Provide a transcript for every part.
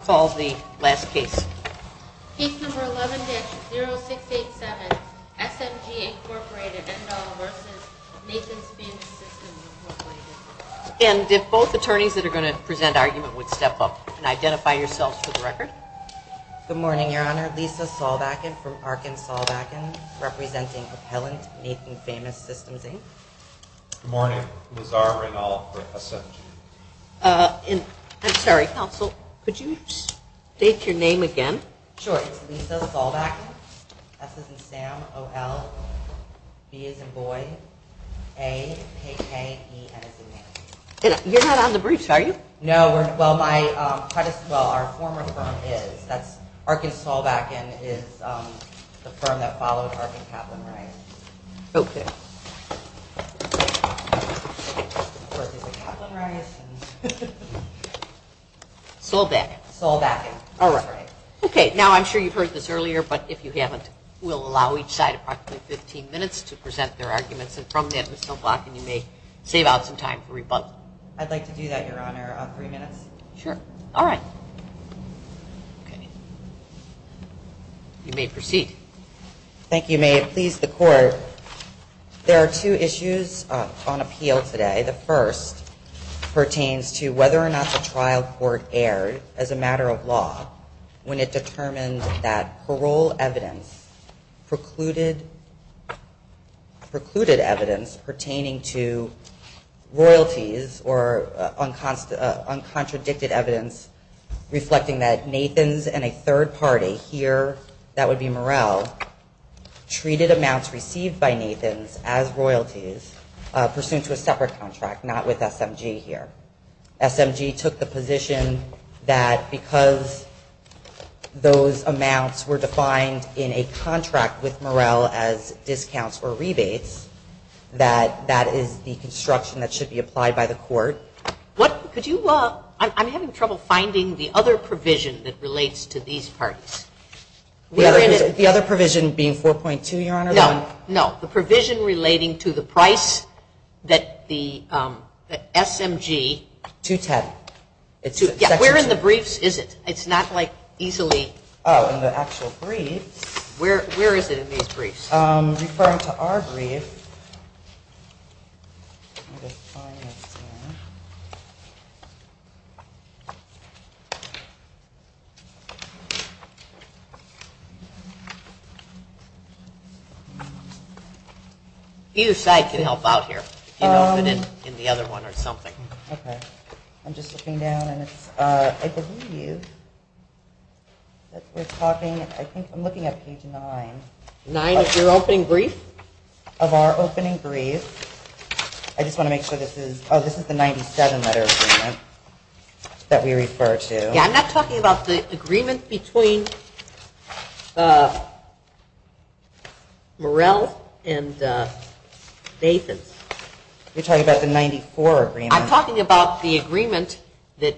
Case 11-0687, SMG, Inc. v. Nathan's Famous Systems, Inc. And if both attorneys that are going to present argument would step up and identify yourselves for the record. Good morning, Your Honor. Lisa Saulbacken from Arkansas Backen, representing appellant Nathan's Famous Systems, Inc. Good morning. Lizara Rinal for SMG. I'm sorry, counsel, could you state your name again? Sure. It's Lisa Saulbacken. S as in Sam, O-L, B as in boy, A, K-K, E, N as in name. You're not on the briefs, are you? No. Well, my, quite as well. Our former firm is. Arkansas Backen is the firm that followed Arkin Kaplan Rice. Okay. Saulbacken. Saulbacken. All right. Okay. Now, I'm sure you've heard this earlier, but if you haven't, we'll allow each side approximately 15 minutes to present their arguments. And from that, Ms. Saulbacken, you may save out some time for rebuttal. I'd like to do that, Your Honor, on three minutes. Sure. All right. You may proceed. Thank you. May it please the Court. There are two issues on appeal today. The first pertains to whether or not the trial court erred as a matter of law when it determined that parole evidence precluded evidence pertaining to royalties or uncontradicted evidence reflecting that Nathans and a third party here, that would be Morrell, treated amounts received by Nathans as royalties pursuant to a separate contract, not with SMG here. SMG took the position that because those amounts were defined in a contract with Morrell as discounts or rebates, that that is the construction that should be applied by the court. Could you, I'm having trouble finding the other provision that relates to these parties. The other provision being 4.2, Your Honor? No, no, the provision relating to the price that the SMG. 210. Where in the briefs is it? It's not like easily. Oh, in the actual briefs. Where is it in these briefs? I'm referring to our brief. Either side can help out here. In the other one or something. Okay. I'm just looking down and it's, I believe you, that we're talking, I think I'm looking at page nine. Nine of your opening brief? Of our opening brief. I just want to make sure this is, oh, this is the 97 letter agreement that we refer to. Yeah, I'm not talking about the agreement between Morrell and Nathans. You're talking about the 94 agreement. I'm talking about the agreement that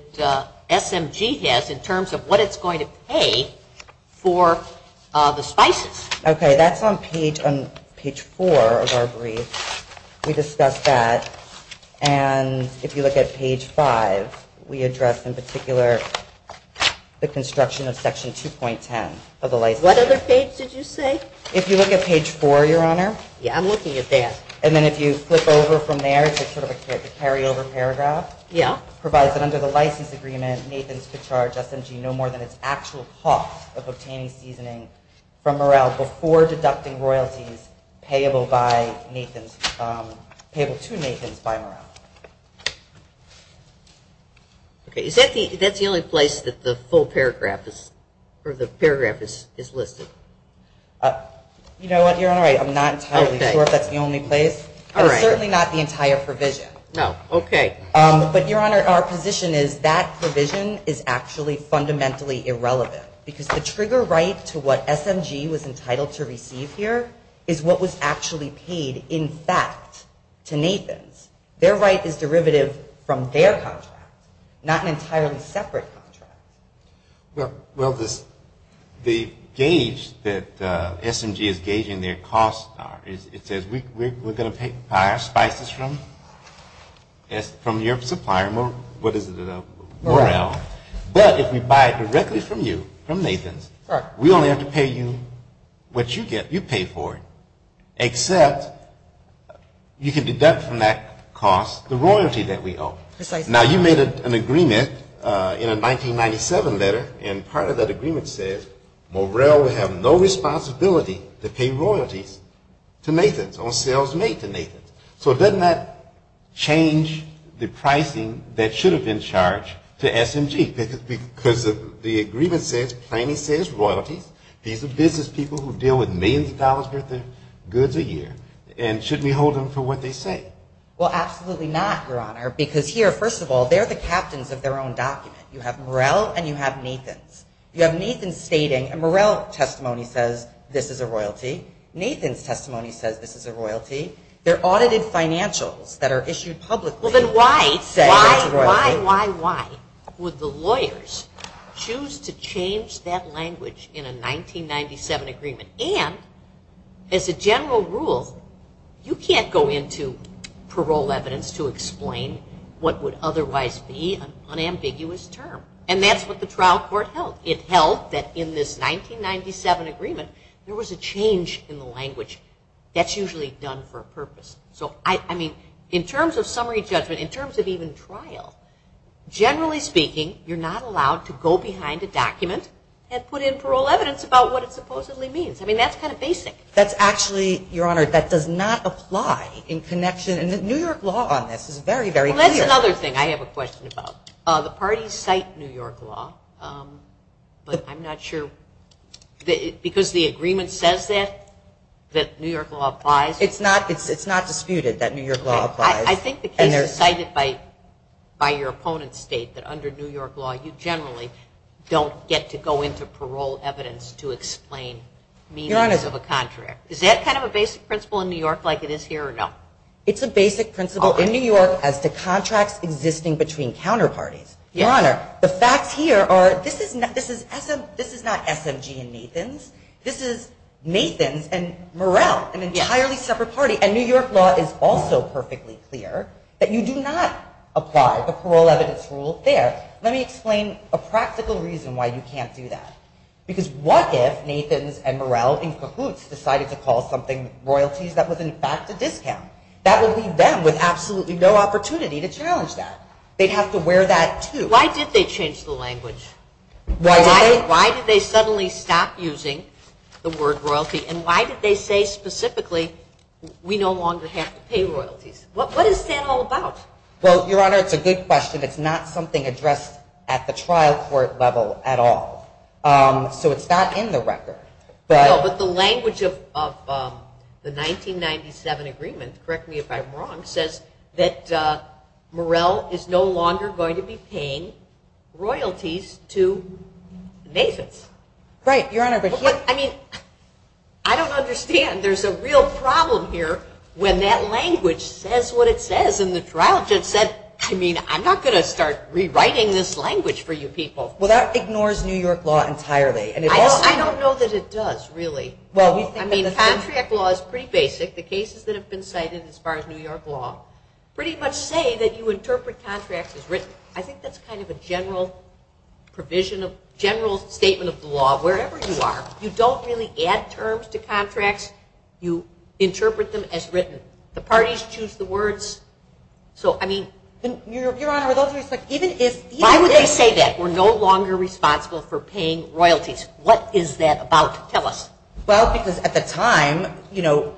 SMG has in terms of what it's going to pay for the spices. Okay, that's on page four of our brief. We discussed that. And if you look at page five, we address in particular the construction of section 2.10 of the license. What other page did you say? If you look at page four, Your Honor. Yeah, I'm looking at that. And then if you flip over from there to sort of a carryover paragraph. Yeah. Provides that under the license agreement, Nathans could charge SMG no more than its actual cost of obtaining seasoning from Morrell before deducting royalties payable by Nathans, payable to Nathans by Morrell. Okay, is that the, that's the only place that the full paragraph is, or the paragraph is listed? You know what, Your Honor, I'm not entirely sure if that's the only place. All right. It's certainly not the entire provision. No, okay. But, Your Honor, our position is that provision is actually fundamentally irrelevant, because the trigger right to what SMG was entitled to receive here is what was actually paid in fact to Nathans. Their right is derivative from their contract, not an entirely separate contract. Well, the gauge that SMG is gauging their costs are, it says we're going to buy our spices from your supplier, what is it, Morrell, but if we buy it directly from you, from Nathans, we only have to pay you what you get, you pay for it, except you can deduct from that cost the royalty that we owe. Now, you made an agreement in a 1997 letter, and part of that agreement says, Morrell will have no responsibility to pay royalties to Nathans, or sales made to Nathans. So doesn't that change the pricing that should have been charged to SMG? Because the agreement says, plainly says, royalties, these are business people who deal with millions of dollars worth of goods a year, and shouldn't we hold them for what they say? Well, absolutely not, Your Honor, because here, first of all, they're the captains of their own document. You have Morrell and you have Nathans. You have Nathans stating a Morrell testimony says this is a royalty, Nathans testimony says this is a royalty, they're audited financials that are issued publicly say it's a royalty. Well, then why, why, why, why would the lawyers choose to change that language in a 1997 agreement? And, as a general rule, you can't go into parole evidence to explain what would otherwise be an unambiguous term. And that's what the trial court held. It held that in this 1997 agreement, there was a change in the language. That's usually done for a purpose. So, I mean, in terms of summary judgment, in terms of even trial, generally speaking, you're not allowed to go behind a document and put in parole evidence about what it supposedly means. I mean, that's kind of basic. That's actually, Your Honor, that does not apply in connection, and the New York law on this is very, very clear. Well, that's another thing I have a question about. The parties cite New York law, but I'm not sure, because the agreement says that, that New York law applies? It's not disputed that New York law applies. I think the case is cited by your opponent's state that, under New York law, you generally don't get to go into parole evidence to explain meanings of a contract. Is that kind of a basic principle in New York like it is here, or no? It's a basic principle in New York as to contracts existing between counterparties. Your Honor, the facts here are, this is not SMG and Nathans. This is Nathans and Morrell, an entirely separate party. And New York law is also perfectly clear that you do not apply the parole evidence rule there. Let me explain a practical reason why you can't do that. Because what if Nathans and Morrell in cahoots decided to call something royalties that was, in fact, a discount? That would leave them with absolutely no opportunity to challenge that. They'd have to wear that, too. Why did they change the language? Why did they suddenly stop using the word royalty, and why did they say specifically we no longer have to pay royalties? What is that all about? Well, Your Honor, it's a good question. It's not something addressed at the trial court level at all. So it's not in the record. No, but the language of the 1997 agreement, correct me if I'm wrong, says that Morrell is no longer going to be paying royalties to Nathans. Right, Your Honor. But, I mean, I don't understand. There's a real problem here when that language says what it says. And the trial judge said, I mean, I'm not going to start rewriting this language for you people. Well, that ignores New York law entirely. I don't know that it does, really. Well, we think that it does. I mean, contract law is pretty basic. The cases that have been cited as far as New York law pretty much say that you interpret contracts as written. I think that's kind of a general provision of general statement of the law wherever you are. You don't really add terms to contracts. You interpret them as written. The parties choose the words. So, I mean. Your Honor, with all due respect, even if they say that we're no longer responsible for paying royalties, what is that about? Tell us. Well, because at the time, you know,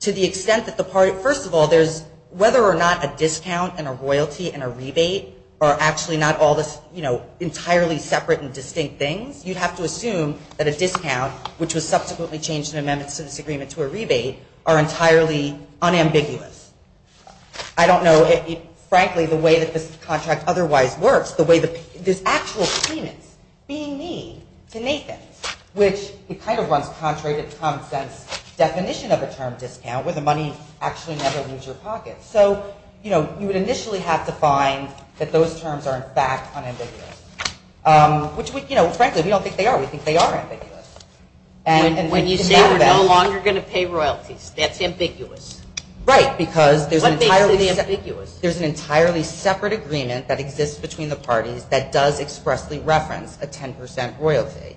to the extent that the party, first of all, there's whether or not a discount and a royalty and a rebate are actually not all this, you know, entirely separate and distinct things. You'd have to assume that a discount, which was subsequently changed in amendments to this agreement to a rebate, are entirely unambiguous. I don't know, frankly, the way that this contract otherwise works. There's actual payments being made to Nathan's, which it kind of runs contrary to the common sense definition of a term discount, where the money actually never leaves your pocket. So, you know, you would initially have to find that those terms are, in fact, unambiguous, which, you know, frankly, we don't think they are. We think they are ambiguous. When you say we're no longer going to pay royalties, that's ambiguous? Right, because there's an entirely separate agreement that exists between the parties that does expressly reference a 10% royalty,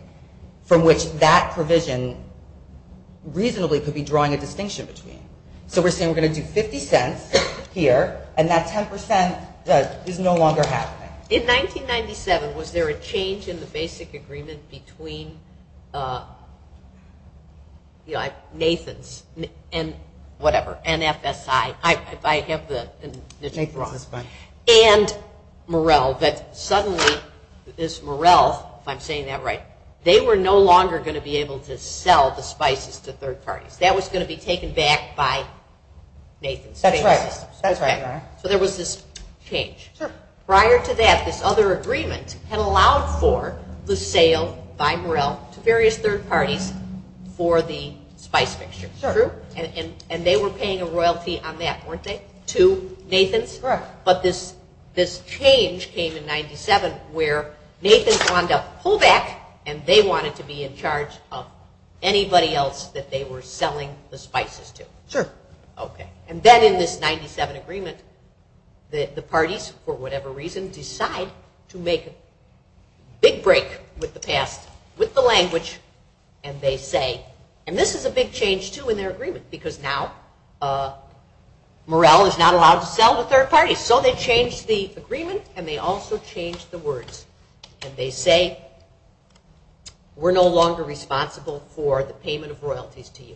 from which that provision reasonably could be drawing a distinction between. So we're saying we're going to do 50 cents here, and that 10% is no longer happening. In 1997, was there a change in the basic agreement between, you know, Nathan's, and whatever, NFSI, if I have the name wrong, and Morrell, that suddenly this Morrell, if I'm saying that right, they were no longer going to be able to sell the spices to third parties. That was going to be taken back by Nathan's. That's right. So there was this change. Prior to that, this other agreement had allowed for the sale by Morrell to various third parties for the spice mixture. True. And they were paying a royalty on that, weren't they, to Nathan's? Correct. But this change came in 97, where Nathan's wanted to pull back, and they wanted to be in charge of anybody else that they were selling the spices to. Sure. Okay. And then in this 97 agreement, the parties, for whatever reason, decide to make a big break with the past, with the language, and they say, and this is a big change, too, in their agreement, because now Morrell is not allowed to sell to third parties. So they changed the agreement, and they also changed the words. And they say, we're no longer responsible for the payment of royalties to you.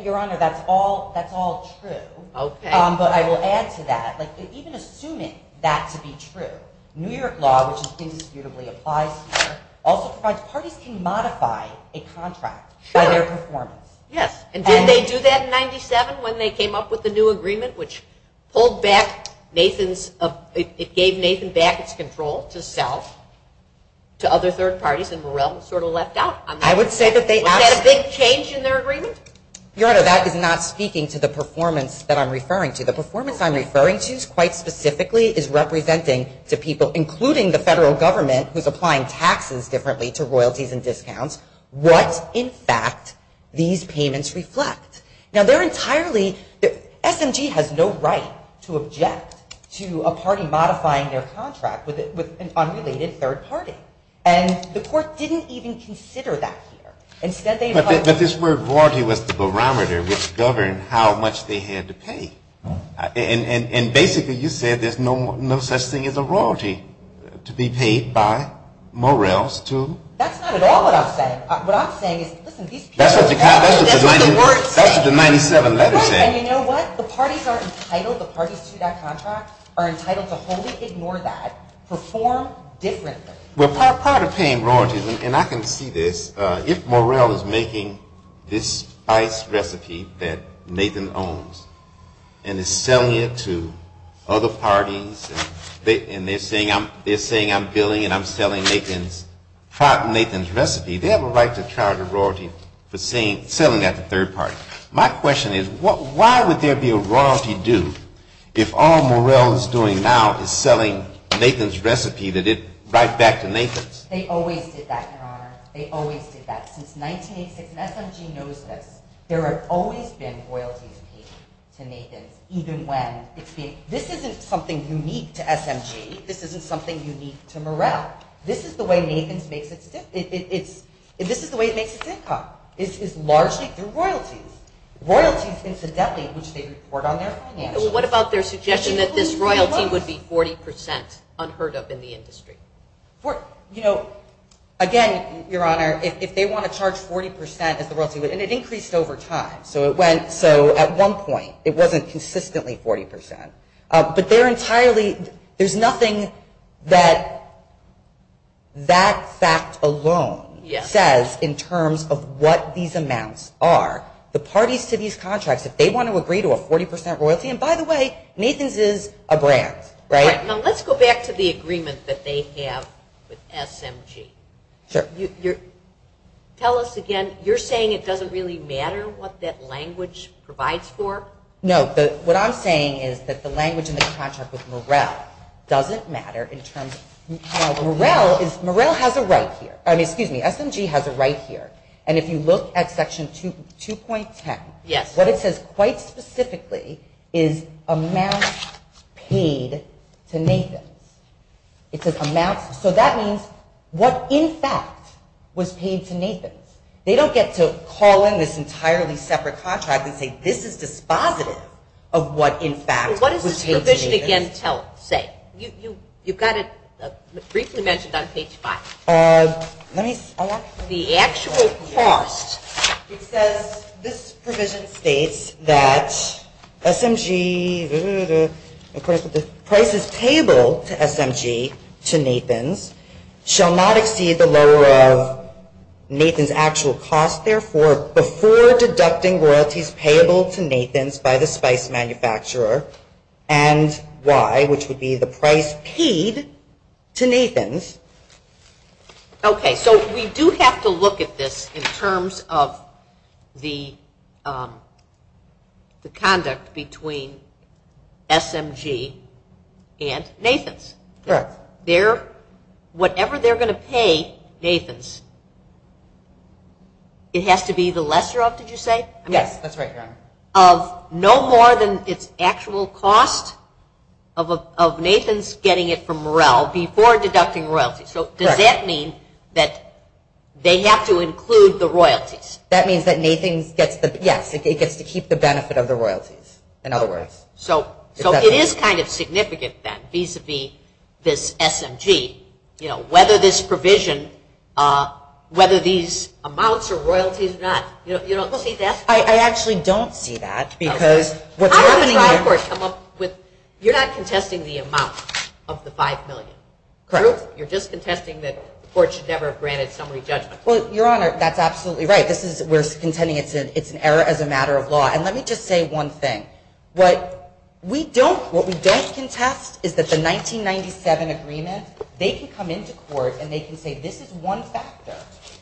Your Honor, that's all true. Okay. But I will add to that, even assuming that to be true, New York law, which indisputably applies here, also provides parties can modify a contract by their performance. Yes. And did they do that in 97 when they came up with the new agreement, which pulled back Nathan's – it gave Nathan back its control to sell to other third parties, and Morrell sort of left out on that? I would say that they – Was that a big change in their agreement? Your Honor, that is not speaking to the performance that I'm referring to. The performance I'm referring to quite specifically is representing to people, including the federal government, who's applying taxes differently to royalties and discounts, what, in fact, these payments reflect. Now, they're entirely – SMG has no right to object to a party modifying their contract with an unrelated third party. And the court didn't even consider that here. Instead, they – But this word royalty was the barometer which governed how much they had to pay. And basically you said there's no such thing as a royalty to be paid by Morrell's to – That's not at all what I'm saying. What I'm saying is, listen, these people – That's what the 97 letter says. Right, and you know what? The parties are entitled – the parties to that contract are entitled to wholly ignore that, perform differently. Well, part of paying royalties, and I can see this, if Morrell is making this spice recipe that Nathan owns and is selling it to other parties, and they're saying I'm billing and I'm selling Nathan's – prior to Nathan's recipe, they have a right to charge a royalty for selling that to third parties. My question is, why would there be a royalty due if all Morrell is doing now is selling Nathan's recipe that is right back to Nathan's? They always did that, Your Honor. They always did that. Since 1986, and SMG knows this, there have always been royalties paid to Nathan's, even when – This isn't something unique to SMG. This isn't something unique to Morrell. This is the way Nathan's makes its – This is the way it makes its income, is largely through royalties. Royalties, incidentally, which they report on their finances. Well, what about their suggestion that this royalty would be 40% unheard of in the industry? You know, again, Your Honor, if they want to charge 40% as the royalty, and it increased over time, so at one point it wasn't consistently 40%, but they're entirely – there's nothing that that fact alone says in terms of what these amounts are. The parties to these contracts, if they want to agree to a 40% royalty – and by the way, Nathan's is a brand, right? Now, let's go back to the agreement that they have with SMG. Sure. Tell us again, you're saying it doesn't really matter what that language provides for? No. What I'm saying is that the language in the contract with Morrell doesn't matter in terms – Morrell has a right here. Excuse me, SMG has a right here. And if you look at Section 2.10, what it says quite specifically is amounts paid to Nathan's. It says amounts – so that means what, in fact, was paid to Nathan's. They don't get to call in this entirely separate contract and say this is dispositive of what, in fact, was paid to Nathan's. What does this provision again say? You've got it briefly mentioned on page 5. The actual cost. It says this provision states that SMG – prices payable to SMG to Nathan's shall not exceed the lower of Nathan's actual cost. Therefore, before deducting royalties payable to Nathan's by the spice manufacturer and why, which would be the price paid to Nathan's. Okay, so we do have to look at this in terms of the conduct between SMG and Nathan's. Correct. Whatever they're going to pay Nathan's, it has to be the lesser of, did you say? Yes, that's right, Your Honor. Of no more than its actual cost of Nathan's getting it from Morrell before deducting royalties. So does that mean that they have to include the royalties? That means that Nathan's gets the – yes, it gets to keep the benefit of the royalties, in other words. So it is kind of significant then vis-à-vis this SMG. Whether this provision, whether these amounts are royalties or not, you don't see that? I actually don't see that because what's happening here – How does the trial court come up with – you're not contesting the amount of the $5 million. Correct. You're just contesting that the court should never have granted summary judgment. Well, Your Honor, that's absolutely right. We're contending it's an error as a matter of law. And let me just say one thing. What we don't contest is that the 1997 agreement, they can come into court and they can say, this is one factor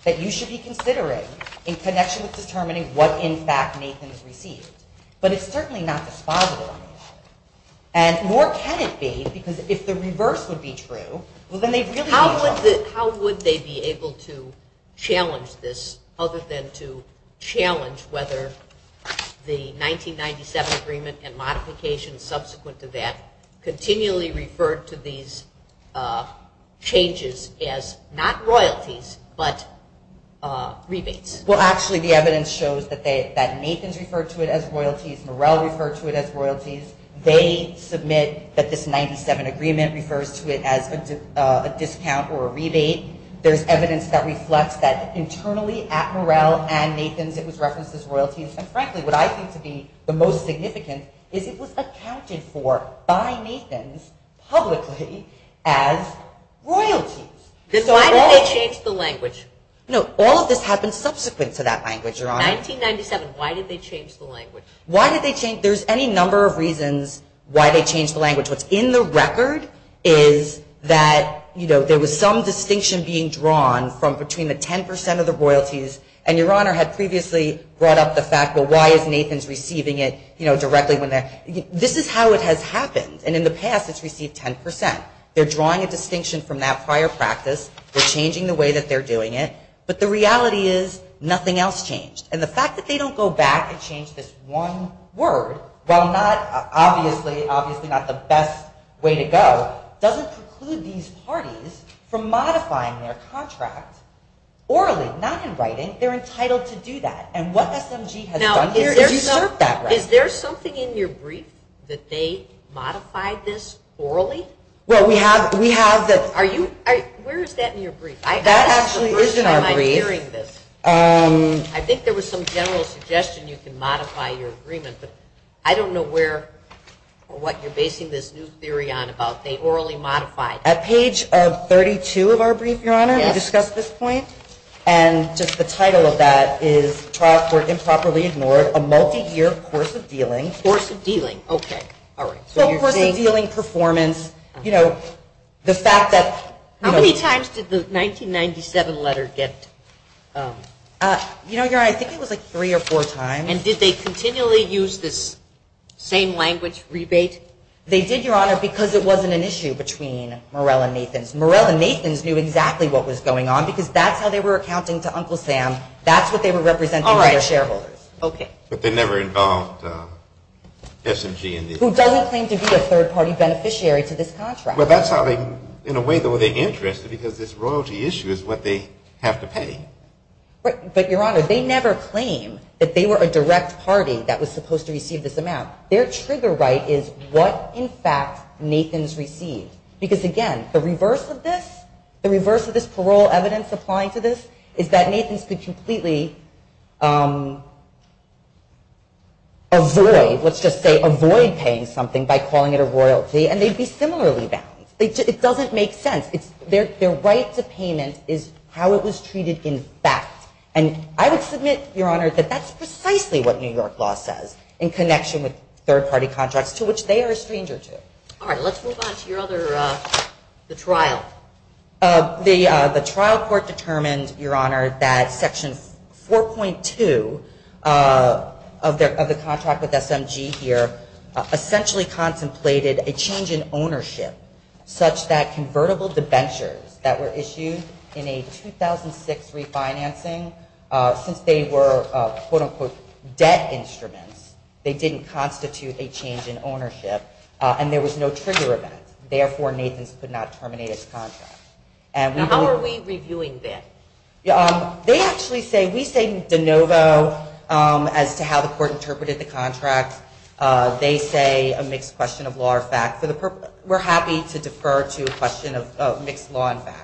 that you should be considering in connection with determining what, in fact, Nathan has received. But it's certainly not dispositive of Nathan. And more can it be because if the reverse would be true, well, then they really – How would they be able to challenge this other than to challenge whether the 1997 agreement and modifications subsequent to that continually referred to these changes as not royalties but rebates? Well, actually, the evidence shows that Nathan's referred to it as royalties. Morrell referred to it as royalties. They submit that this 1997 agreement refers to it as a discount or a rebate. There's evidence that reflects that internally at Morrell and Nathan's it was referenced as royalties. And frankly, what I think to be the most significant is it was accounted for by Nathan's publicly as royalties. Why did they change the language? No, all of this happened subsequent to that language, Your Honor. 1997, why did they change the language? Why did they change – there's any number of reasons why they changed the language. What's in the record is that, you know, there was some distinction being drawn from between the 10% of the royalties. And Your Honor had previously brought up the fact, well, why is Nathan's receiving it, you know, directly when they're – this is how it has happened. And in the past, it's received 10%. They're drawing a distinction from that prior practice. They're changing the way that they're doing it. But the reality is nothing else changed. And the fact that they don't go back and change this one word, while not – obviously not the best way to go, doesn't preclude these parties from modifying their contract orally, not in writing. They're entitled to do that. And what SMG has done is usurp that right. Now, is there something in your brief that they modified this orally? Well, we have the – Are you – where is that in your brief? That actually is in our brief. I think there was some general suggestion you can modify your agreement, but I don't know where or what you're basing this new theory on about they orally modified. At page 32 of our brief, Your Honor, we discussed this point. And just the title of that is trial court improperly ignored, a multi-year course of dealing. Course of dealing. Okay. All right. So you're saying – Course of dealing, performance, you know, the fact that – How many times did the 1997 letter get – You know, Your Honor, I think it was like three or four times. And did they continually use this same language, rebate? They did, Your Honor, because it wasn't an issue between Morell and Nathans. Morell and Nathans knew exactly what was going on because that's how they were accounting to Uncle Sam. That's what they were representing to their shareholders. All right. Okay. But they never involved SMG in the – Who doesn't claim to be a third-party beneficiary to this contract. Well, that's how they – in a way, though, they're interested because this royalty issue is what they have to pay. But, Your Honor, they never claim that they were a direct party that was supposed to receive this amount. Their trigger right is what, in fact, Nathans received. Because, again, the reverse of this, the reverse of this parole evidence applying to this, is that Nathans could completely avoid, let's just say avoid paying something by calling it a royalty, and they'd be similarly bound. It doesn't make sense. Their right to payment is how it was treated in fact. And I would submit, Your Honor, that that's precisely what New York law says in connection with third-party contracts, to which they are a stranger to. All right. Let's move on to your other – the trial. The trial court determined, Your Honor, that Section 4.2 of the contract with SMG here essentially contemplated a change in ownership such that convertible debentures that were issued in a 2006 refinancing, since they were, quote-unquote, debt instruments, they didn't constitute a change in ownership, and there was no trigger event. Therefore, Nathans could not terminate his contract. Now, how are we reviewing that? They actually say – we say de novo as to how the court interpreted the contract. They say a mixed question of law or fact. We're happy to defer to a question of mixed law and fact.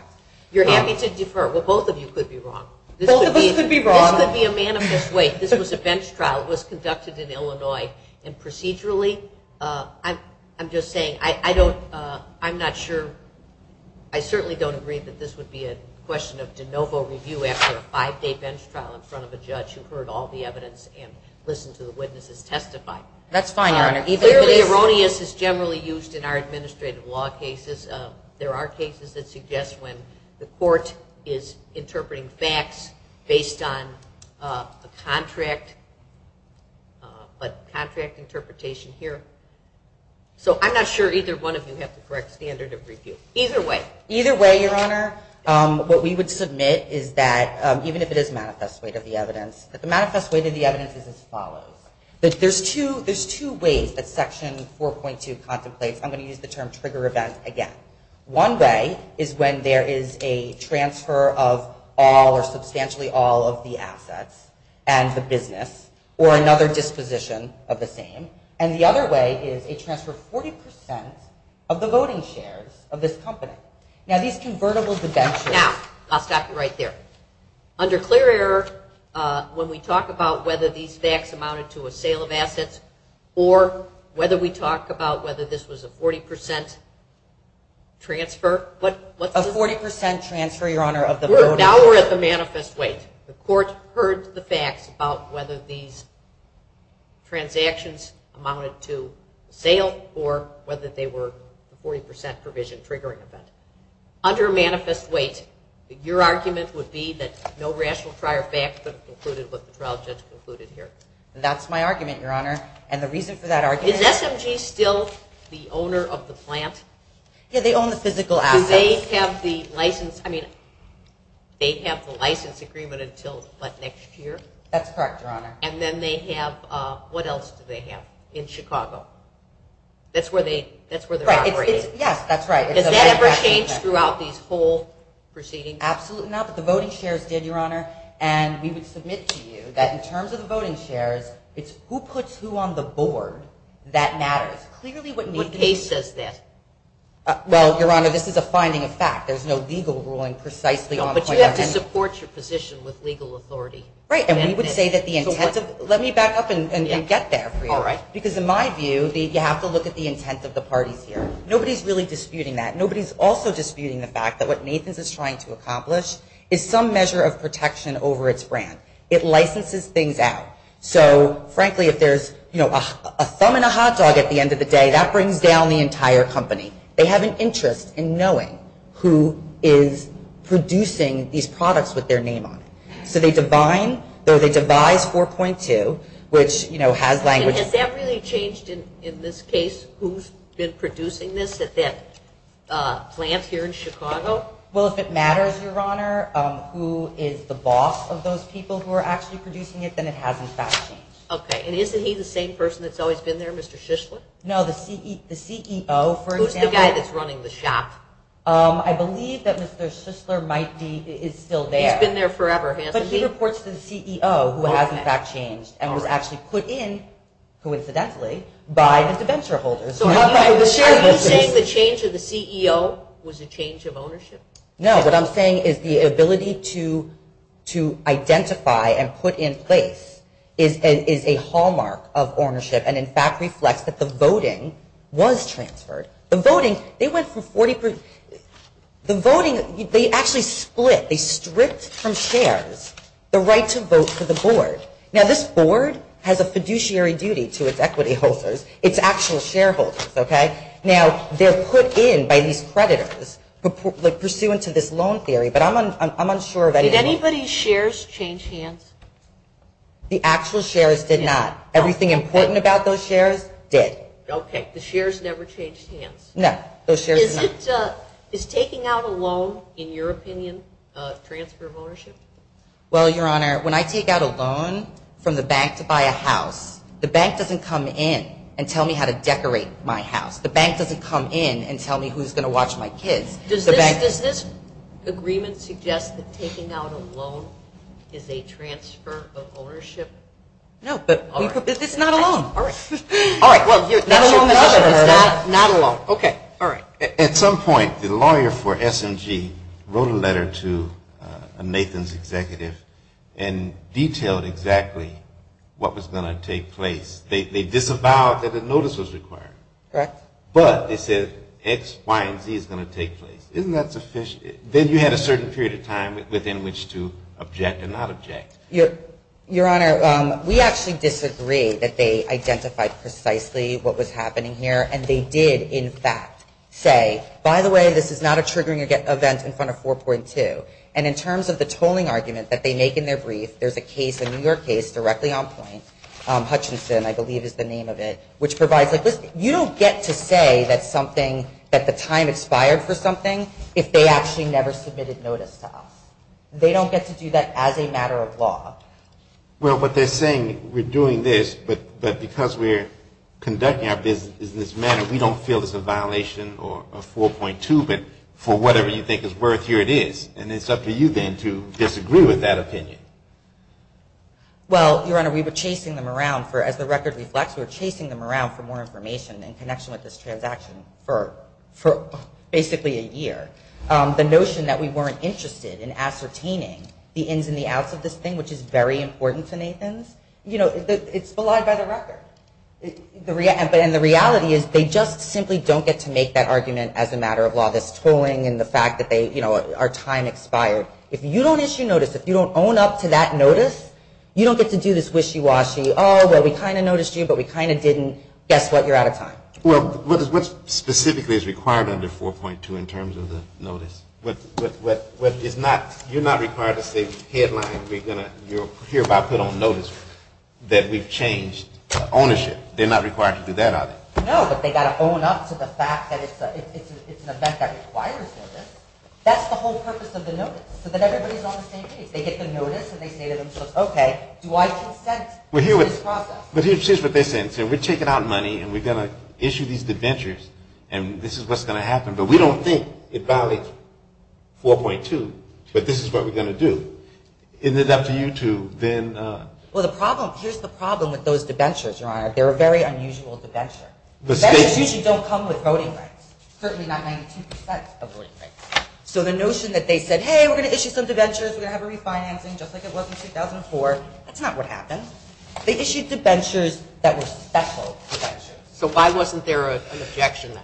You're happy to defer. Well, both of you could be wrong. Both of us could be wrong. This could be a manifest way. This was a bench trial. It was conducted in Illinois. And procedurally, I'm just saying I don't – I'm not sure – I certainly don't agree that this would be a question of de novo review after a five-day bench trial in front of a judge who heard all the evidence and listened to the witnesses testify. That's fine, Your Honor. Clearly, erroneous is generally used in our administrative law cases. There are cases that suggest when the court is interpreting facts based on a contract interpretation here. So I'm not sure either one of you have the correct standard of review. Either way. Either way, Your Honor. What we would submit is that even if it is manifest way to the evidence, that the manifest way to the evidence is as follows. There's two ways that Section 4.2 contemplates. I'm going to use the term trigger event again. One way is when there is a transfer of all or substantially all of the assets and the business or another disposition of the same. And the other way is a transfer of 40 percent of the voting shares of this company. Now, these convertible debentures. Now, I'll stop you right there. Under clear error, when we talk about whether these facts amounted to a sale of assets or whether we talk about whether this was a 40 percent transfer. A 40 percent transfer, Your Honor, of the voting shares. Now we're at the manifest way. The court heard the facts about whether these transactions amounted to sale or whether they were a 40 percent provision triggering event. Under manifest way, your argument would be that no rational prior fact could have concluded what the trial judge concluded here. That's my argument, Your Honor. And the reason for that argument. Is SMG still the owner of the plant? Yeah, they own the physical assets. Do they have the license? I mean, they have the license agreement until what, next year? That's correct, Your Honor. And then they have, what else do they have in Chicago? That's where they're operating. Yes, that's right. Does that ever change throughout these whole proceedings? Absolutely not, but the voting shares did, Your Honor. And we would submit to you that in terms of the voting shares, it's who puts who on the board that matters. What case says that? Well, Your Honor, this is a finding of fact. There's no legal ruling precisely on the point. But you have to support your position with legal authority. Right, and we would say that the intent of, let me back up and get there for you. Because in my view, you have to look at the intent of the parties here. Nobody's really disputing that. Nobody's also disputing the fact that what Nathan's is trying to accomplish is some measure of protection over its brand. It licenses things out. So, frankly, if there's a thumb in a hot dog at the end of the day, that brings down the entire company. They have an interest in knowing who is producing these products with their name on it. So they devise 4.2, which has language. Has that really changed in this case who's been producing this at that plant here in Chicago? Well, if it matters, Your Honor, who is the boss of those people who are actually producing it, then it has, in fact, changed. Okay, and isn't he the same person that's always been there, Mr. Shishler? No, the CEO, for example. Who's the guy that's running the shop? I believe that Mr. Shishler is still there. He's been there forever, hasn't he? But he reports to the CEO who has, in fact, changed and was actually put in, coincidentally, by the debenture holders. Are you saying the change of the CEO was a change of ownership? No, what I'm saying is the ability to identify and put in place is a hallmark of ownership and, in fact, reflects that the voting was transferred. The voting, they actually split, they stripped from shares the right to vote for the board. Now, this board has a fiduciary duty to its equity holders, its actual shareholders, okay? Now, they're put in by these creditors pursuant to this loan theory, but I'm unsure of anything else. Did anybody's shares change hands? The actual shares did not. Everything important about those shares did. Okay, the shares never changed hands. No, those shares did not. Is taking out a loan, in your opinion, a transfer of ownership? Well, Your Honor, when I take out a loan from the bank to buy a house, the bank doesn't come in and tell me how to decorate my house. The bank doesn't come in and tell me who's going to watch my kids. Does this agreement suggest that taking out a loan is a transfer of ownership? No, but it's not a loan. Not a loan. At some point, the lawyer for SMG wrote a letter to Nathan's executive and detailed exactly what was going to take place. They disavowed that a notice was required. Correct. But they said X, Y, and Z is going to take place. Isn't that sufficient? Then you had a certain period of time within which to object and not object. Your Honor, we actually disagree that they identified precisely what was happening here, and they did, in fact, say, by the way, this is not a triggering event in front of 4.2. And in terms of the tolling argument that they make in their brief, there's a case, a New York case, directly on point, Hutchinson, I believe, is the name of it, which provides, like, listen, you don't get to say that the time expired for something if they actually never submitted notice to us. They don't get to do that as a matter of law. Well, what they're saying, we're doing this, but because we're conducting our business in this manner, we don't feel it's a violation of 4.2, but for whatever you think is worth, here it is. And it's up to you, then, to disagree with that opinion. Well, Your Honor, we were chasing them around for, as the record reflects, we were chasing them around for more information in connection with this transaction for basically a year. The notion that we weren't interested in ascertaining the ins and the outs of this thing, which is very important to Nathan's, you know, it's belied by the record. And the reality is they just simply don't get to make that argument as a matter of law, this tolling and the fact that they, you know, our time expired. If you don't issue notice, if you don't own up to that notice, you don't get to do this wishy-washy, oh, well, we kind of noticed you, but we kind of didn't, guess what, you're out of time. Well, what specifically is required under 4.2 in terms of the notice? What is not, you're not required to say headline, we're going to hereby put on notice that we've changed ownership. They're not required to do that, are they? No, but they've got to own up to the fact that it's an event that requires notice. That's the whole purpose of the notice, so that everybody's on the same page. They get the notice and they say to themselves, okay, do I consent to this process? But here's what they're saying. They say we're taking out money and we're going to issue these debentures and this is what's going to happen, but we don't think it valid 4.2, but this is what we're going to do. Isn't it up to you to then? Well, the problem, here's the problem with those debentures, Your Honor. They're a very unusual debenture. Debentures usually don't come with voting rights, certainly not 92% of voting rights. So the notion that they said, hey, we're going to issue some debentures, we're going to have a refinancing just like it was in 2004, that's not what happened. They issued debentures that were special debentures. So why wasn't there an objection then?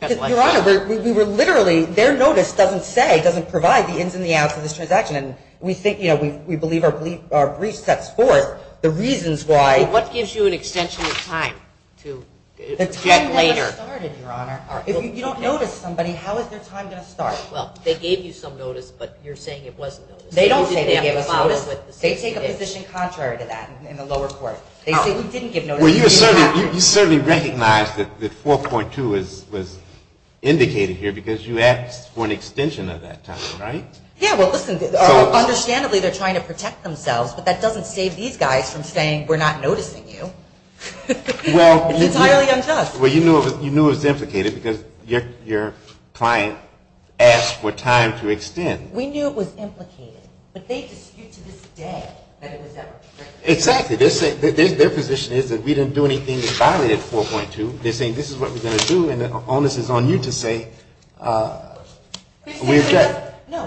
Because, Your Honor, we were literally, their notice doesn't say, doesn't provide the ins and the outs of this transaction, and we think, you know, we believe our brief sets forth the reasons why. What gives you an extension of time to object later? The time never started, Your Honor. If you don't notice somebody, how is their time going to start? Well, they gave you some notice, but you're saying it wasn't noticed. They don't say they gave a notice. They take a position contrary to that in the lower court. They say we didn't give notice. Well, you certainly recognize that 4.2 was indicated here because you asked for an extension of that time, right? Yeah, well, listen, understandably they're trying to protect themselves, but that doesn't save these guys from saying we're not noticing you. It's entirely unjust. Well, you knew it was implicated because your client asked for time to extend. We knew it was implicated, but they dispute to this day that it was ever protected. Exactly. Their position is that we didn't do anything that violated 4.2. They're saying this is what we're going to do, and the onus is on you to say we object. No,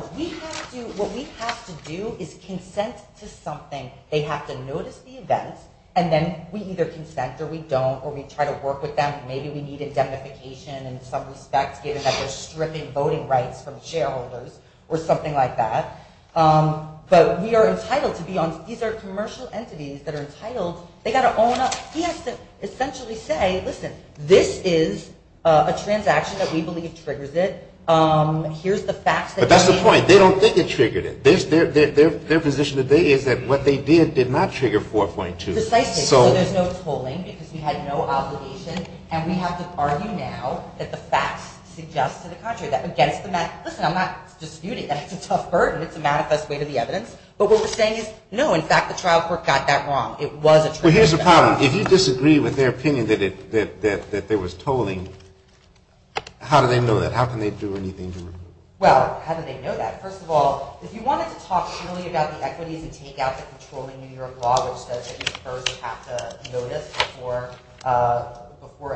what we have to do is consent to something. They have to notice the event, and then we either consent or we don't or we try to work with them. Maybe we need indemnification in some respects, given that they're stripping voting rights from shareholders or something like that. But we are entitled to be on – these are commercial entities that are entitled. They've got to own up. He has to essentially say, listen, this is a transaction that we believe triggers it. Here's the facts that we need. But that's the point. They don't think it triggered it. Their position today is that what they did did not trigger 4.2. Precisely. So there's no tolling because we had no obligation, and we have to argue now that the facts suggest to the contrary. Listen, I'm not disputing that. It's a tough burden. It's a manifest way to the evidence. But what we're saying is, no, in fact, the trial court got that wrong. It was a trigger. Well, here's the problem. If you disagree with their opinion that there was tolling, how do they know that? How can they do anything to it? Well, how do they know that? First of all, if you wanted to talk truly about the equities and take out the controlling New York law, which says that you first have to notice before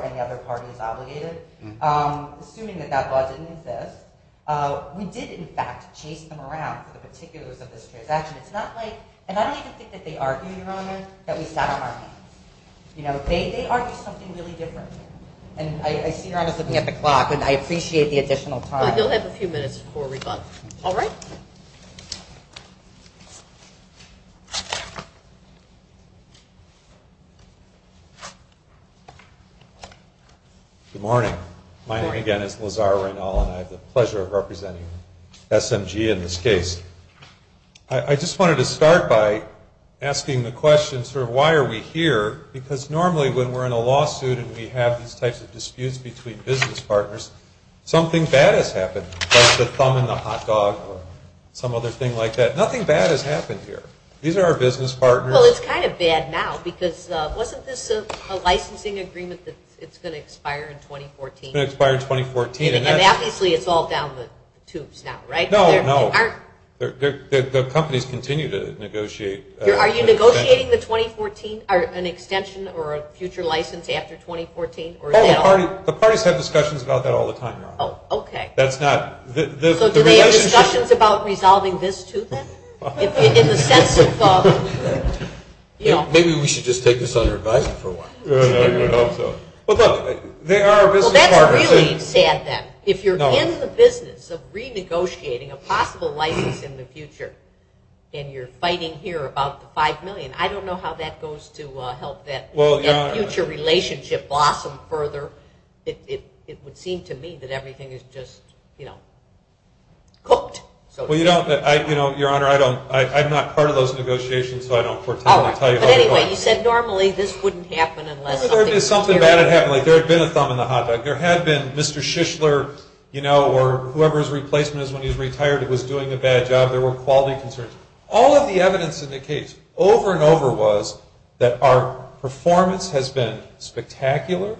any other party is obligated, assuming that that law didn't exist, we did, in fact, chase them around with the particulars of this transaction. It's not like – and I don't even think that they argue, Your Honor, that we sat on our hands. You know, they argue something really different. And I see Your Honor's looking at the clock, and I appreciate the additional time. You'll have a few minutes before we vote. All right? Good morning. My name, again, is Lazar Reynal, and I have the pleasure of representing SMG in this case. I just wanted to start by asking the question sort of why are we here, because normally when we're in a lawsuit and we have these types of disputes between business partners, something bad has happened, like the thumb in the hot dog or some other thing like that. Nothing bad has happened here. These are our business partners. Well, it's kind of bad now, because wasn't this a licensing agreement that it's going to expire in 2014? It's going to expire in 2014. And obviously it's all down the tubes now, right? No, no. The companies continue to negotiate. Are you negotiating an extension or a future license after 2014? The parties have discussions about that all the time, Your Honor. Oh, okay. So do they have discussions about resolving this, too, then? In the sense of, you know. Maybe we should just take this under advisement for a while. I hope so. Well, look, they are our business partners. Well, that's really sad, then. If you're in the business of renegotiating a possible license in the future and you're fighting here about the $5 million, I don't know how that goes to help that future relationship blossom further. It would seem to me that everything is just, you know, cooked. Well, you know, Your Honor, I'm not part of those negotiations, so I don't foretell or tell you how it goes. But anyway, you said normally this wouldn't happen unless something terrible. Something bad had happened. Like there had been a thumb in the hot dog. There had been Mr. Shishler, you know, or whoever his replacement is when he's retired, was doing a bad job. There were quality concerns. All of the evidence indicates over and over was that our performance has been spectacular,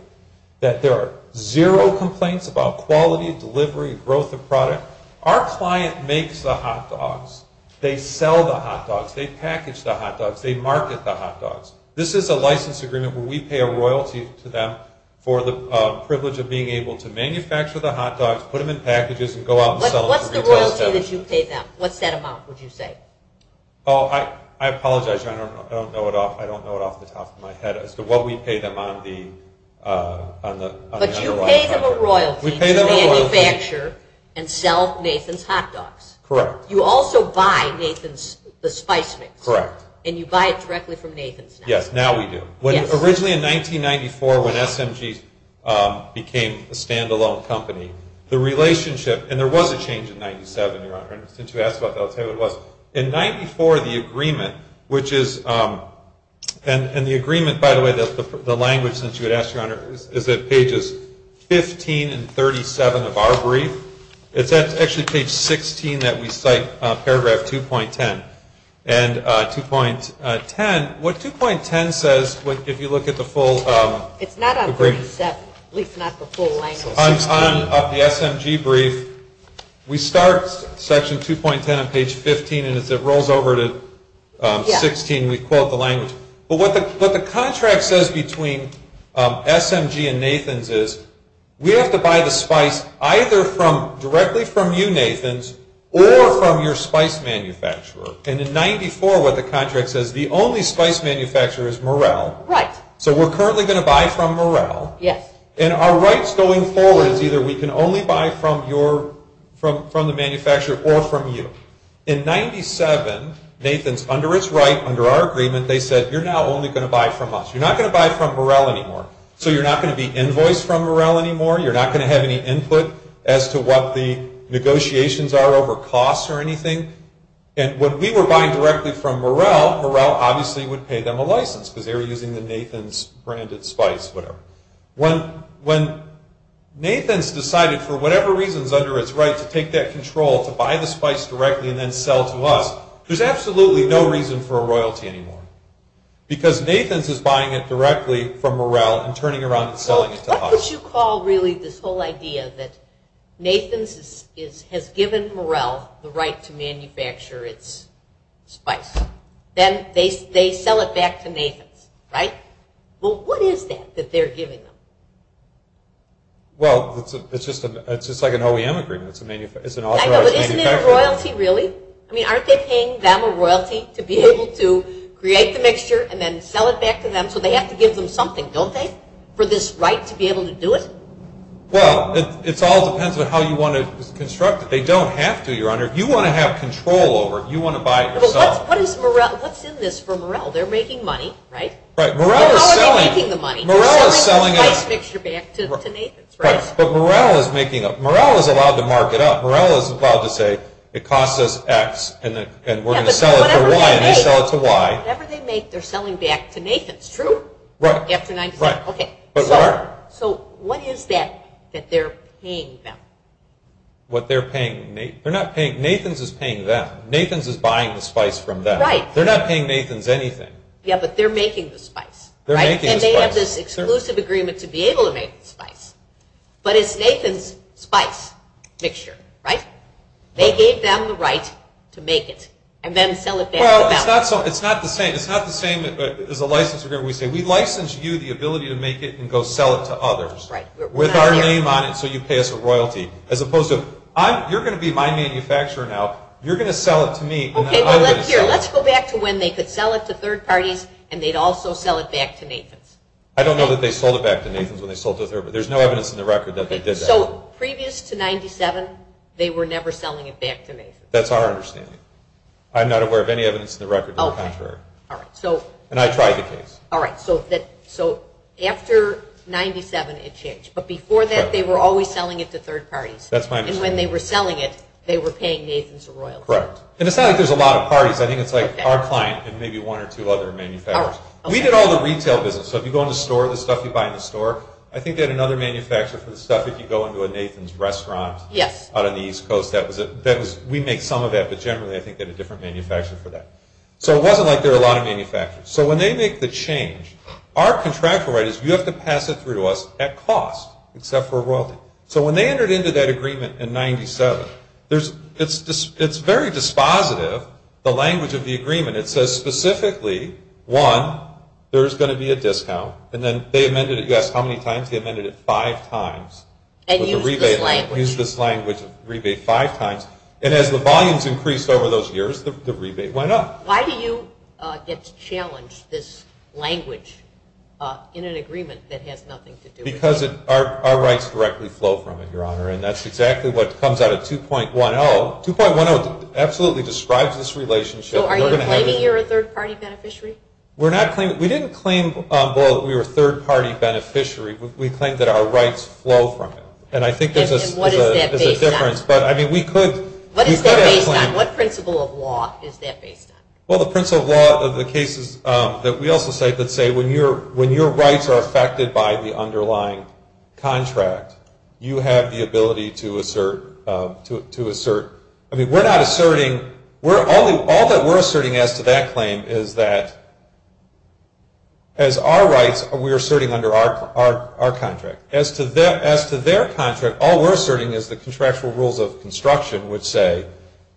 that there are zero complaints about quality, delivery, growth of product. Our client makes the hot dogs. They sell the hot dogs. They package the hot dogs. They market the hot dogs. This is a license agreement where we pay a royalty to them for the privilege of being able to manufacture the hot dogs, put them in packages, and go out and sell them to retail establishments. What's the royalty that you pay them? What's that amount, would you say? Oh, I apologize, Your Honor. I don't know it off the top of my head as to what we pay them on the royalty. We pay them a royalty to manufacture and sell Nathan's hot dogs. Correct. You also buy Nathan's, the spice mix. Correct. And you buy it directly from Nathan's now. Yes, now we do. Yes. Originally in 1994 when SMG became a stand-alone company, the relationship, and there was a change in 97, Your Honor, since you asked about that, I'll tell you what it was. In 94, the agreement, which is, and the agreement, by the way, the language since you had asked, Your Honor, is at pages 15 and 37 of our brief. It's actually page 16 that we cite, paragraph 2.10. And 2.10, what 2.10 says, if you look at the full agreement. It's not on 37, at least not the full language. On the SMG brief, we start section 2.10 on page 15, and as it rolls over to 16, we quote the language. But what the contract says between SMG and Nathan's is we have to buy the spice either directly from you, Nathan's, or from your spice manufacturer. And in 94, what the contract says, the only spice manufacturer is Morrell. Right. So we're currently going to buy from Morrell. Yes. And our rights going forward is either we can only buy from the manufacturer or from you. In 97, Nathan's, under its right, under our agreement, they said, You're now only going to buy from us. You're not going to buy from Morrell anymore. So you're not going to be invoiced from Morrell anymore. You're not going to have any input as to what the negotiations are over costs or anything. And when we were buying directly from Morrell, Morrell obviously would pay them a license because they were using the Nathan's branded spice, whatever. When Nathan's decided, for whatever reasons under its right, to take that control, to buy the spice directly and then sell to us, there's absolutely no reason for a royalty anymore because Nathan's is buying it directly from Morrell and turning around and selling it to us. So what would you call, really, this whole idea that Nathan's has given Morrell the right to manufacture its spice? Then they sell it back to Nathan's, right? Well, what is that that they're giving them? Well, it's just like an OEM agreement. I know, but isn't it royalty, really? I mean, aren't they paying them a royalty to be able to create the mixture and then sell it back to them? So they have to give them something, don't they, for this right to be able to do it? Well, it all depends on how you want to construct it. They don't have to, Your Honor. You want to have control over it. You want to buy it yourself. But what's in this for Morrell? They're making money, right? Right. Morrell is selling it. Morrell is selling a spice mixture back to Nathan's, right? Right. Morrell is allowed to mark it up. Morrell is allowed to say, it costs us X, and we're going to sell it for Y, and they sell it to Y. Whatever they make, they're selling back to Nathan's, true? Right. So what is that that they're paying them? What they're paying? Nathan's is paying them. Nathan's is buying the spice from them. They're not paying Nathan's anything. Yeah, but they're making the spice, right? But it's Nathan's spice mixture, right? They gave them the right to make it and then sell it back to them. Well, it's not the same. It's not the same as a license agreement where we say, we license you the ability to make it and go sell it to others. Right. With our name on it, so you pay us a royalty. As opposed to, you're going to be my manufacturer now. You're going to sell it to me, and then I'm going to sell it. Okay, well, let's go back to when they could sell it to third parties, and they'd also sell it back to Nathan's. I don't know that they sold it back to Nathan's when they sold it to There's no evidence in the record that they did that. So, previous to 97, they were never selling it back to Nathan's. That's our understanding. I'm not aware of any evidence in the record to the contrary. Okay, all right. And I tried the case. All right. So, after 97, it changed. But before that, they were always selling it to third parties. That's my understanding. And when they were selling it, they were paying Nathan's a royalty. Correct. And it's not like there's a lot of parties. I think it's like our client and maybe one or two other manufacturers. All right. We did all the retail business. So, if you go in the store, the stuff you buy in the store, I think they had another manufacturer for the stuff. If you go into a Nathan's restaurant out on the East Coast, we make some of that. But generally, I think they had a different manufacturer for that. So, it wasn't like there were a lot of manufacturers. So, when they make the change, our contractual right is you have to pass it through to us at cost, except for royalty. So, when they entered into that agreement in 97, it's very dispositive, the language of the agreement. It says specifically, one, there's going to be a discount. And then they amended it, you ask how many times? They amended it five times. And used this language. Used this language of rebate five times. And as the volumes increased over those years, the rebate went up. Why do you get to challenge this language in an agreement that has nothing to do with it? Because our rights directly flow from it, Your Honor, and that's exactly what comes out of 2.10. 2.10 absolutely describes this relationship. So, are you claiming you're a third-party beneficiary? We're not claiming it. We didn't claim, well, that we were a third-party beneficiary. We claimed that our rights flow from it. And I think there's a difference. And what is that based on? But, I mean, we could. What is that based on? What principle of law is that based on? Well, the principle of law of the cases that we also cite that say, when your rights are affected by the underlying contract, you have the ability to assert. I mean, we're not asserting. All that we're asserting as to that claim is that, as our rights, we're asserting under our contract. As to their contract, all we're asserting is the contractual rules of construction, which say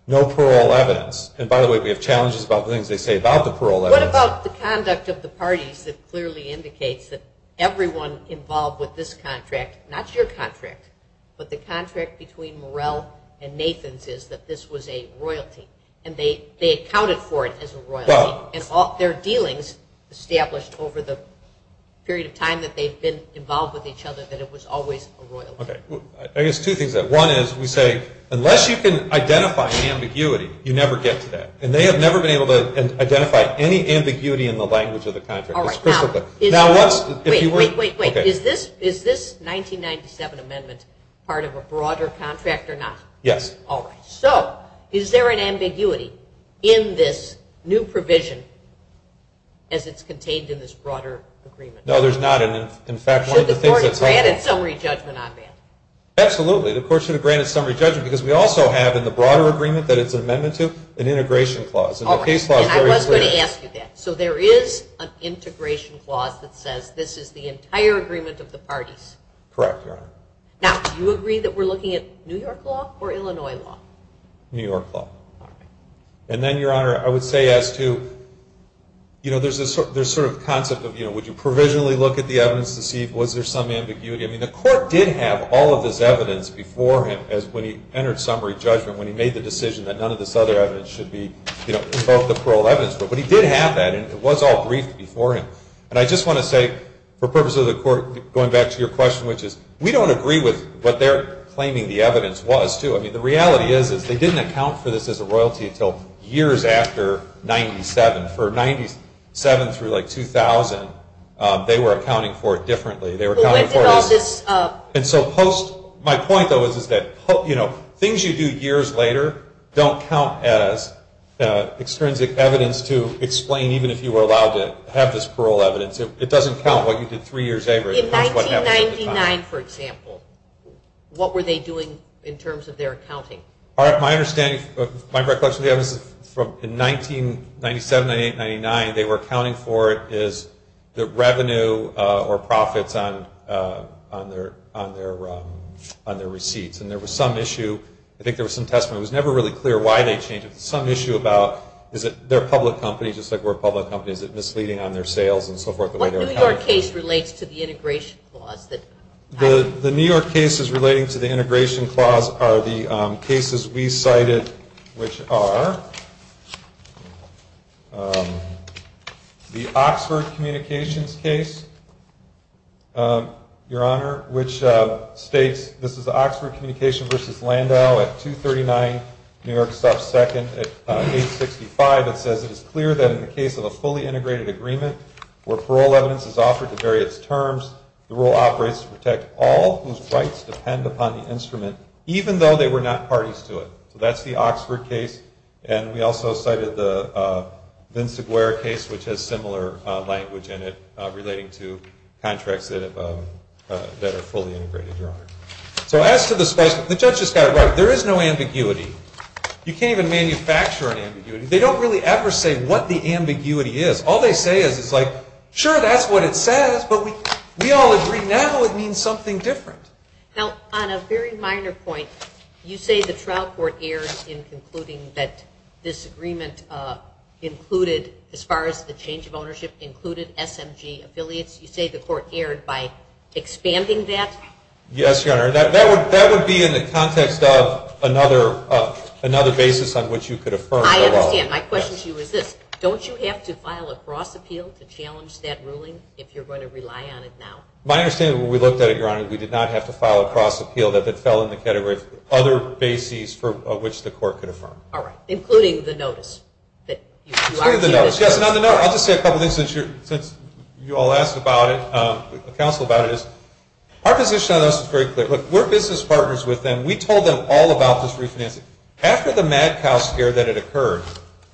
no parole evidence. And, by the way, we have challenges about the things they say about the parole evidence. What about the conduct of the parties that clearly indicates that everyone involved with this contract, not your contract, but the contract between Morrell and Nathans is that this was a royalty and they accounted for it as a royalty. And their dealings established over the period of time that they've been involved with each other that it was always a royalty. Okay. I guess two things. One is we say, unless you can identify the ambiguity, you never get to that. And they have never been able to identify any ambiguity in the language of the contract. Wait, wait, wait. Is this 1997 amendment part of a broader contract or not? Yes. All right. So, is there an ambiguity in this new provision as it's contained in this broader agreement? No, there's not. In fact, one of the things that's helpful. Should the court have granted summary judgment on that? Absolutely. The court should have granted summary judgment because we also have, in the broader agreement that it's an amendment to, an integration clause. And the case law is very clear. All right. And I was going to ask you that. So, there is an integration clause that says this is the entire agreement of the parties? Correct, Your Honor. Now, do you agree that we're looking at New York law or Illinois law? New York law. All right. And then, Your Honor, I would say as to, you know, there's sort of a concept of, you know, would you provisionally look at the evidence to see was there some ambiguity? I mean, the court did have all of this evidence before him as when he entered summary judgment, when he made the decision that none of this other evidence should be, you know, in both the parole evidence. But he did have that, and it was all briefed before him. And I just want to say, for purposes of the court, going back to your question, which is we don't agree with what they're claiming the evidence was, too. I mean, the reality is is they didn't account for this as a royalty until years after 97. For 97 through, like, 2000, they were accounting for it differently. They were accounting for this. Well, when did all this? And so, post, my point, though, is that, you know, to explain even if you were allowed to have this parole evidence. It doesn't count what you did three years later. In 1999, for example, what were they doing in terms of their accounting? My understanding, my recollection of the evidence is from 1997, 98, 99, they were accounting for it as the revenue or profits on their receipts. And there was some issue, I think there was some testimony. It was never really clear why they changed it. But there was some issue about is it their public company, just like we're a public company, is it misleading on their sales and so forth, the way they're accounting for it? What New York case relates to the integration clause that happened? The New York cases relating to the integration clause are the cases we cited, which are the Oxford Communications case, Your Honor, which states, this is the Oxford Communications v. Landau at 239 New York South 2nd at 865. It says, it is clear that in the case of a fully integrated agreement where parole evidence is offered to vary its terms, the rule operates to protect all whose rights depend upon the instrument, even though they were not parties to it. So that's the Oxford case. And we also cited the Vince Aguirre case, which has similar language in it, to contracts that are fully integrated, Your Honor. So as to the specimen, the judge just got it right. There is no ambiguity. You can't even manufacture an ambiguity. They don't really ever say what the ambiguity is. All they say is, it's like, sure, that's what it says, but we all agree now it means something different. Now, on a very minor point, you say the trial court erred in concluding that this agreement included, as far as the change of ownership, included SMG affiliates. You say the court erred by expanding that? Yes, Your Honor. That would be in the context of another basis on which you could affirm parole. I understand. My question to you is this. Don't you have to file a cross appeal to challenge that ruling if you're going to rely on it now? My understanding, when we looked at it, Your Honor, we did not have to file a cross appeal. That fell in the category of other bases for which the court could affirm. All right. Including the notice. Yes, and on the note, I'll just say a couple things since you all asked about it, the counsel about it is, our position on this is very clear. Look, we're business partners with them. We told them all about this refinancing. After the mad cow scare that had occurred,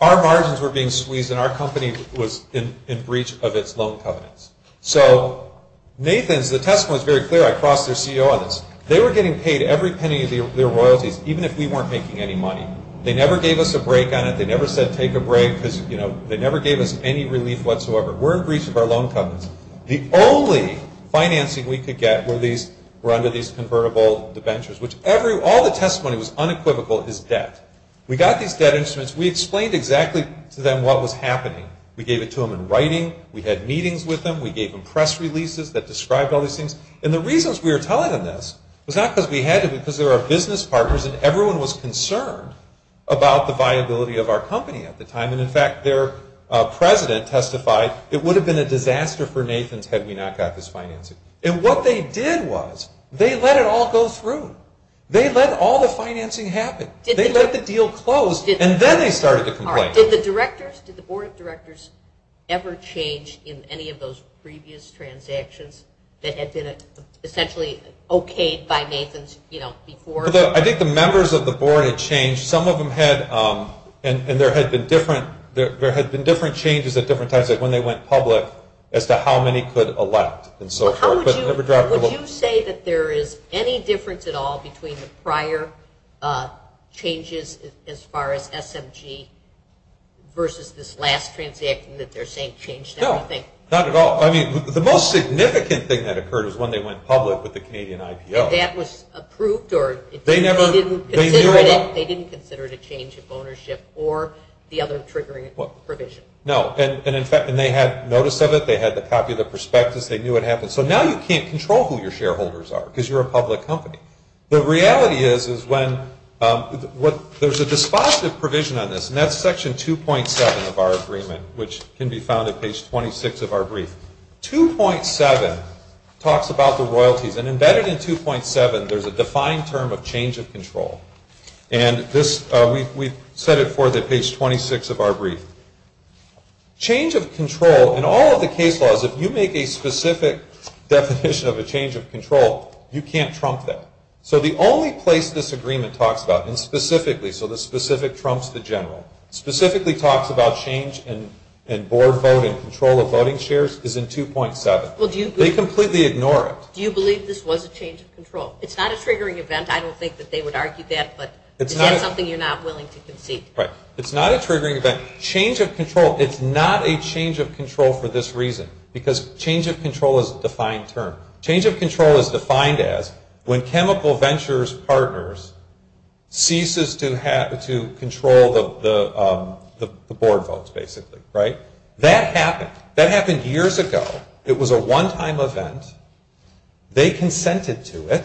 our margins were being squeezed and our company was in breach of its loan covenants. So Nathan's, the testimony is very clear. I crossed their CEO on this. They were getting paid every penny of their royalties, even if we weren't making any money. They never gave us a break on it. They never said take a break because, you know, they never gave us any relief whatsoever. We're in breach of our loan covenants. The only financing we could get were under these convertible debentures, which all the testimony was unequivocal is debt. We got these debt instruments. We explained exactly to them what was happening. We gave it to them in writing. We had meetings with them. We gave them press releases that described all these things. And the reasons we were telling them this was not because we had to, about the viability of our company at the time. And, in fact, their president testified it would have been a disaster for Nathan's had we not got this financing. And what they did was they let it all go through. They let all the financing happen. They let the deal close, and then they started to complain. Did the directors, did the board of directors ever change in any of those previous transactions that had been essentially okayed by Nathan's, you know, before? I think the members of the board had changed. Some of them had, and there had been different changes at different times, like when they went public, as to how many could elect and so forth. Would you say that there is any difference at all between the prior changes as far as SMG versus this last transaction that they're saying changed everything? No, not at all. I mean, the most significant thing that occurred is when they went public with the Canadian IPO. And that was approved, or they didn't consider it a change of ownership or the other triggering provision? No. And, in fact, they had notice of it. They had the copy of the prospectus. They knew what happened. So now you can't control who your shareholders are because you're a public company. The reality is is when there's a dispositive provision on this, and that's Section 2.7 of our agreement, which can be found at page 26 of our brief. Section 2.7 talks about the royalties. And embedded in 2.7, there's a defined term of change of control. And we've set it forth at page 26 of our brief. Change of control, in all of the case laws, if you make a specific definition of a change of control, you can't trump that. So the only place this agreement talks about, and specifically, so the specific trumps the general, specifically talks about change in board vote and control of voting shares is in 2.7. They completely ignore it. Do you believe this was a change of control? It's not a triggering event. I don't think that they would argue that. But is that something you're not willing to concede? Right. It's not a triggering event. Change of control. It's not a change of control for this reason because change of control is a defined term. Change of control is defined as when Chemical Ventures Partners ceases to control the board votes, basically. Right? That happened. That happened years ago. It was a one-time event. They consented to it.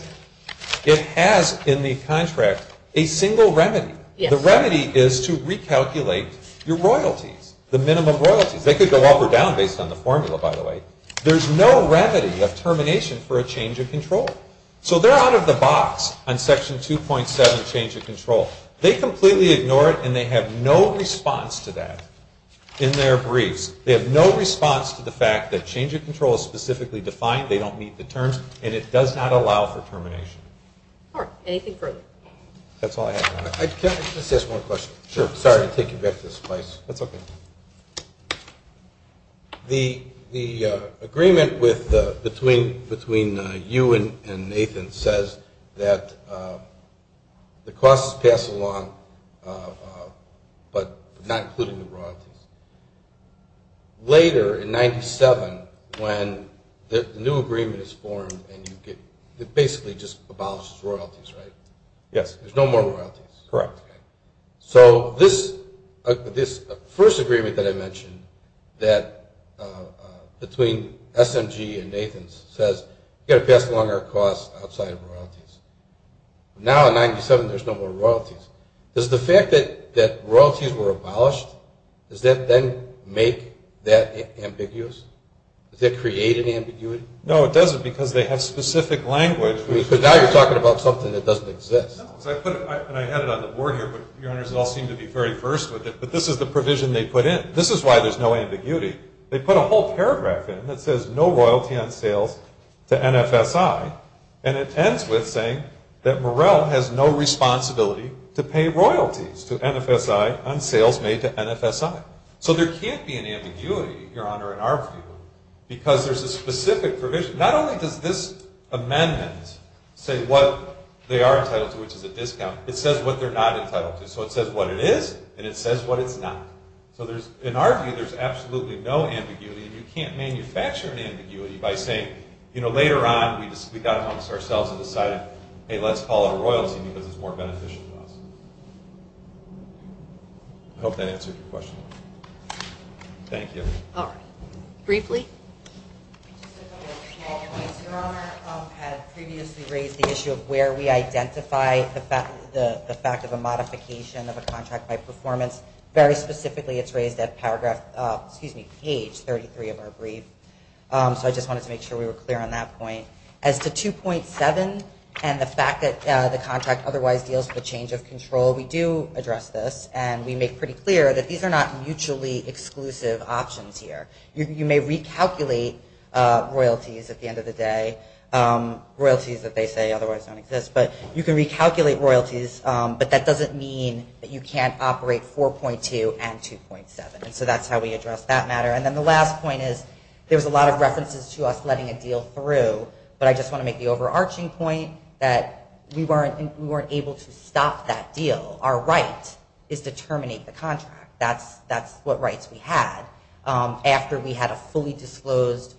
It has in the contract a single remedy. The remedy is to recalculate your royalties, the minimum royalties. They could go up or down based on the formula, by the way. There's no remedy of termination for a change of control. So they're out of the box on Section 2.7, change of control. They completely ignore it, and they have no response to that in their briefs. They have no response to the fact that change of control is specifically defined. They don't meet the terms, and it does not allow for termination. All right. Anything further? That's all I have. Can I just ask one question? Sure. Sorry to take you back to this place. That's okay. The agreement between you and Nathan says that the costs pass along, but not including the royalties. Later, in 97, when the new agreement is formed, it basically just abolishes royalties, right? Yes. There's no more royalties. Correct. So this first agreement that I mentioned that between SMG and Nathan's says we've got to pass along our costs outside of royalties. Now, in 97, there's no more royalties. Does the fact that royalties were abolished, does that then make that ambiguous? Does that create an ambiguity? No, it doesn't because they have specific language. Because now you're talking about something that doesn't exist. I had it on the board here, but, Your Honors, it all seemed to be very first with it. But this is the provision they put in. This is why there's no ambiguity. They put a whole paragraph in that says no royalty on sales to NFSI, and it ends with saying that Morrell has no responsibility to pay royalties to NFSI on sales made to NFSI. So there can't be an ambiguity, Your Honor, in our view, because there's a specific provision. Not only does this amendment say what they are entitled to, which is a discount, it says what they're not entitled to. So it says what it is, and it says what it's not. So in our view, there's absolutely no ambiguity, and you can't manufacture an ambiguity by saying, you know, later on we got amongst ourselves and decided, hey, let's call it a royalty because it's more beneficial to us. I hope that answered your question. Thank you. All right. Briefly? Just a couple of small points. Your Honor had previously raised the issue of where we identify the fact of a modification of a contract by performance. Very specifically, it's raised at page 33 of our brief. So I just wanted to make sure we were clear on that point. As to 2.7 and the fact that the contract otherwise deals with change of control, we do address this, and we make pretty clear that these are not mutually exclusive options here. You may recalculate royalties at the end of the day, royalties that they say otherwise don't exist, but you can recalculate royalties, but that doesn't mean that you can't operate 4.2 and 2.7. So that's how we address that matter. And then the last point is there's a lot of references to us letting a deal through, but I just want to make the overarching point that we weren't able to stop that deal. Our right is to terminate the contract. That's what rights we had after we had a fully disclosed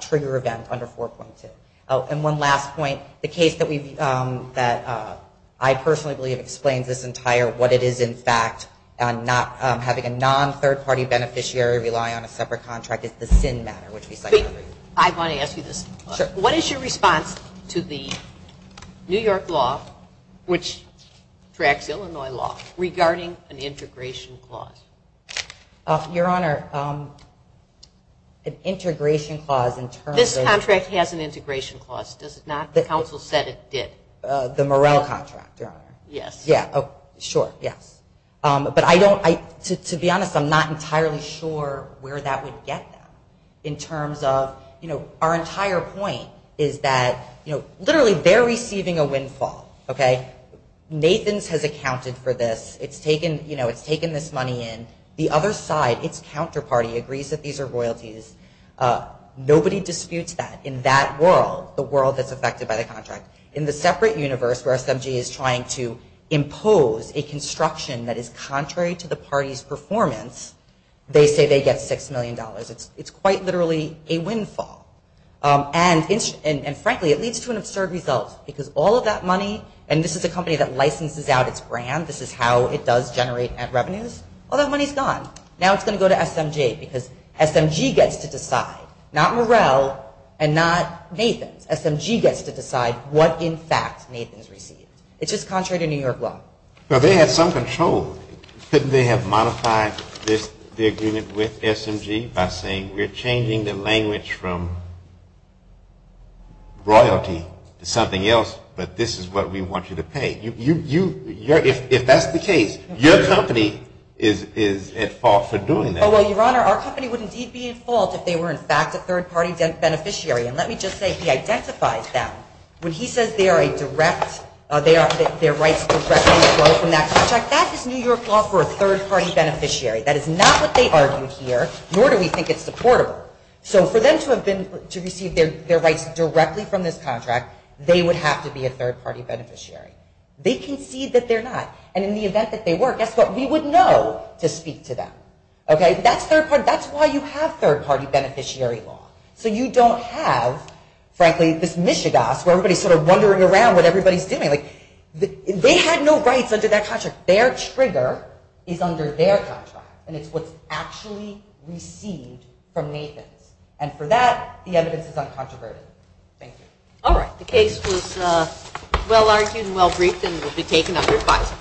trigger event under 4.2. Oh, and one last point. The case that I personally believe explains this entire what it is, in fact, not having a non-third-party beneficiary rely on a separate contract is the SIN matter, which we cited earlier. I want to ask you this. Sure. What is your response to the New York law, which tracks Illinois law, regarding an integration clause? Your Honor, an integration clause in terms of. This contract has an integration clause, does it not? The council said it did. The Morrell contract, Your Honor. Yes. Yeah, sure, yes. But I don't, to be honest, I'm not entirely sure where that would get them in terms of, you know, our entire point is that, you know, literally they're receiving a windfall, okay? Nathan's has accounted for this. It's taken, you know, it's taken this money in. The other side, its counterparty, agrees that these are royalties. Nobody disputes that. In that world, the world that's affected by the contract, in the separate universe where SMG is trying to impose a construction that is contrary to the party's performance, they say they get $6 million. It's quite literally a windfall. And, frankly, it leads to an absurd result because all of that money, and this is a company that licenses out its brand, this is how it does generate revenues, all that money is gone. Now it's going to go to SMG because SMG gets to decide, not Morrell and not Nathan's. SMG gets to decide what, in fact, Nathan's received. It's just contrary to New York law. Well, they had some control. Couldn't they have modified this, the agreement with SMG by saying we're changing the language from royalty to something else, but this is what we want you to pay? If that's the case, your company is at fault for doing that. Well, Your Honor, our company would indeed be at fault if they were, in fact, a third-party beneficiary. And let me just say he identifies them. When he says they are a direct, their rights directly flow from that contract, that is New York law for a third-party beneficiary. That is not what they argued here, nor do we think it's supportable. So for them to have been, to receive their rights directly from this contract, they would have to be a third-party beneficiary. They concede that they're not. And in the event that they were, guess what? We would know to speak to them. Okay? That's third-party, that's why you have third-party beneficiary law. So you don't have, frankly, this Michigas where everybody's sort of wondering around what everybody's doing. They had no rights under that contract. Their trigger is under their contract, and it's what's actually received from Nathan's. And for that, the evidence is uncontroverted. Thank you. All right. The case was well-argued and well-briefed and will be taken under advisory.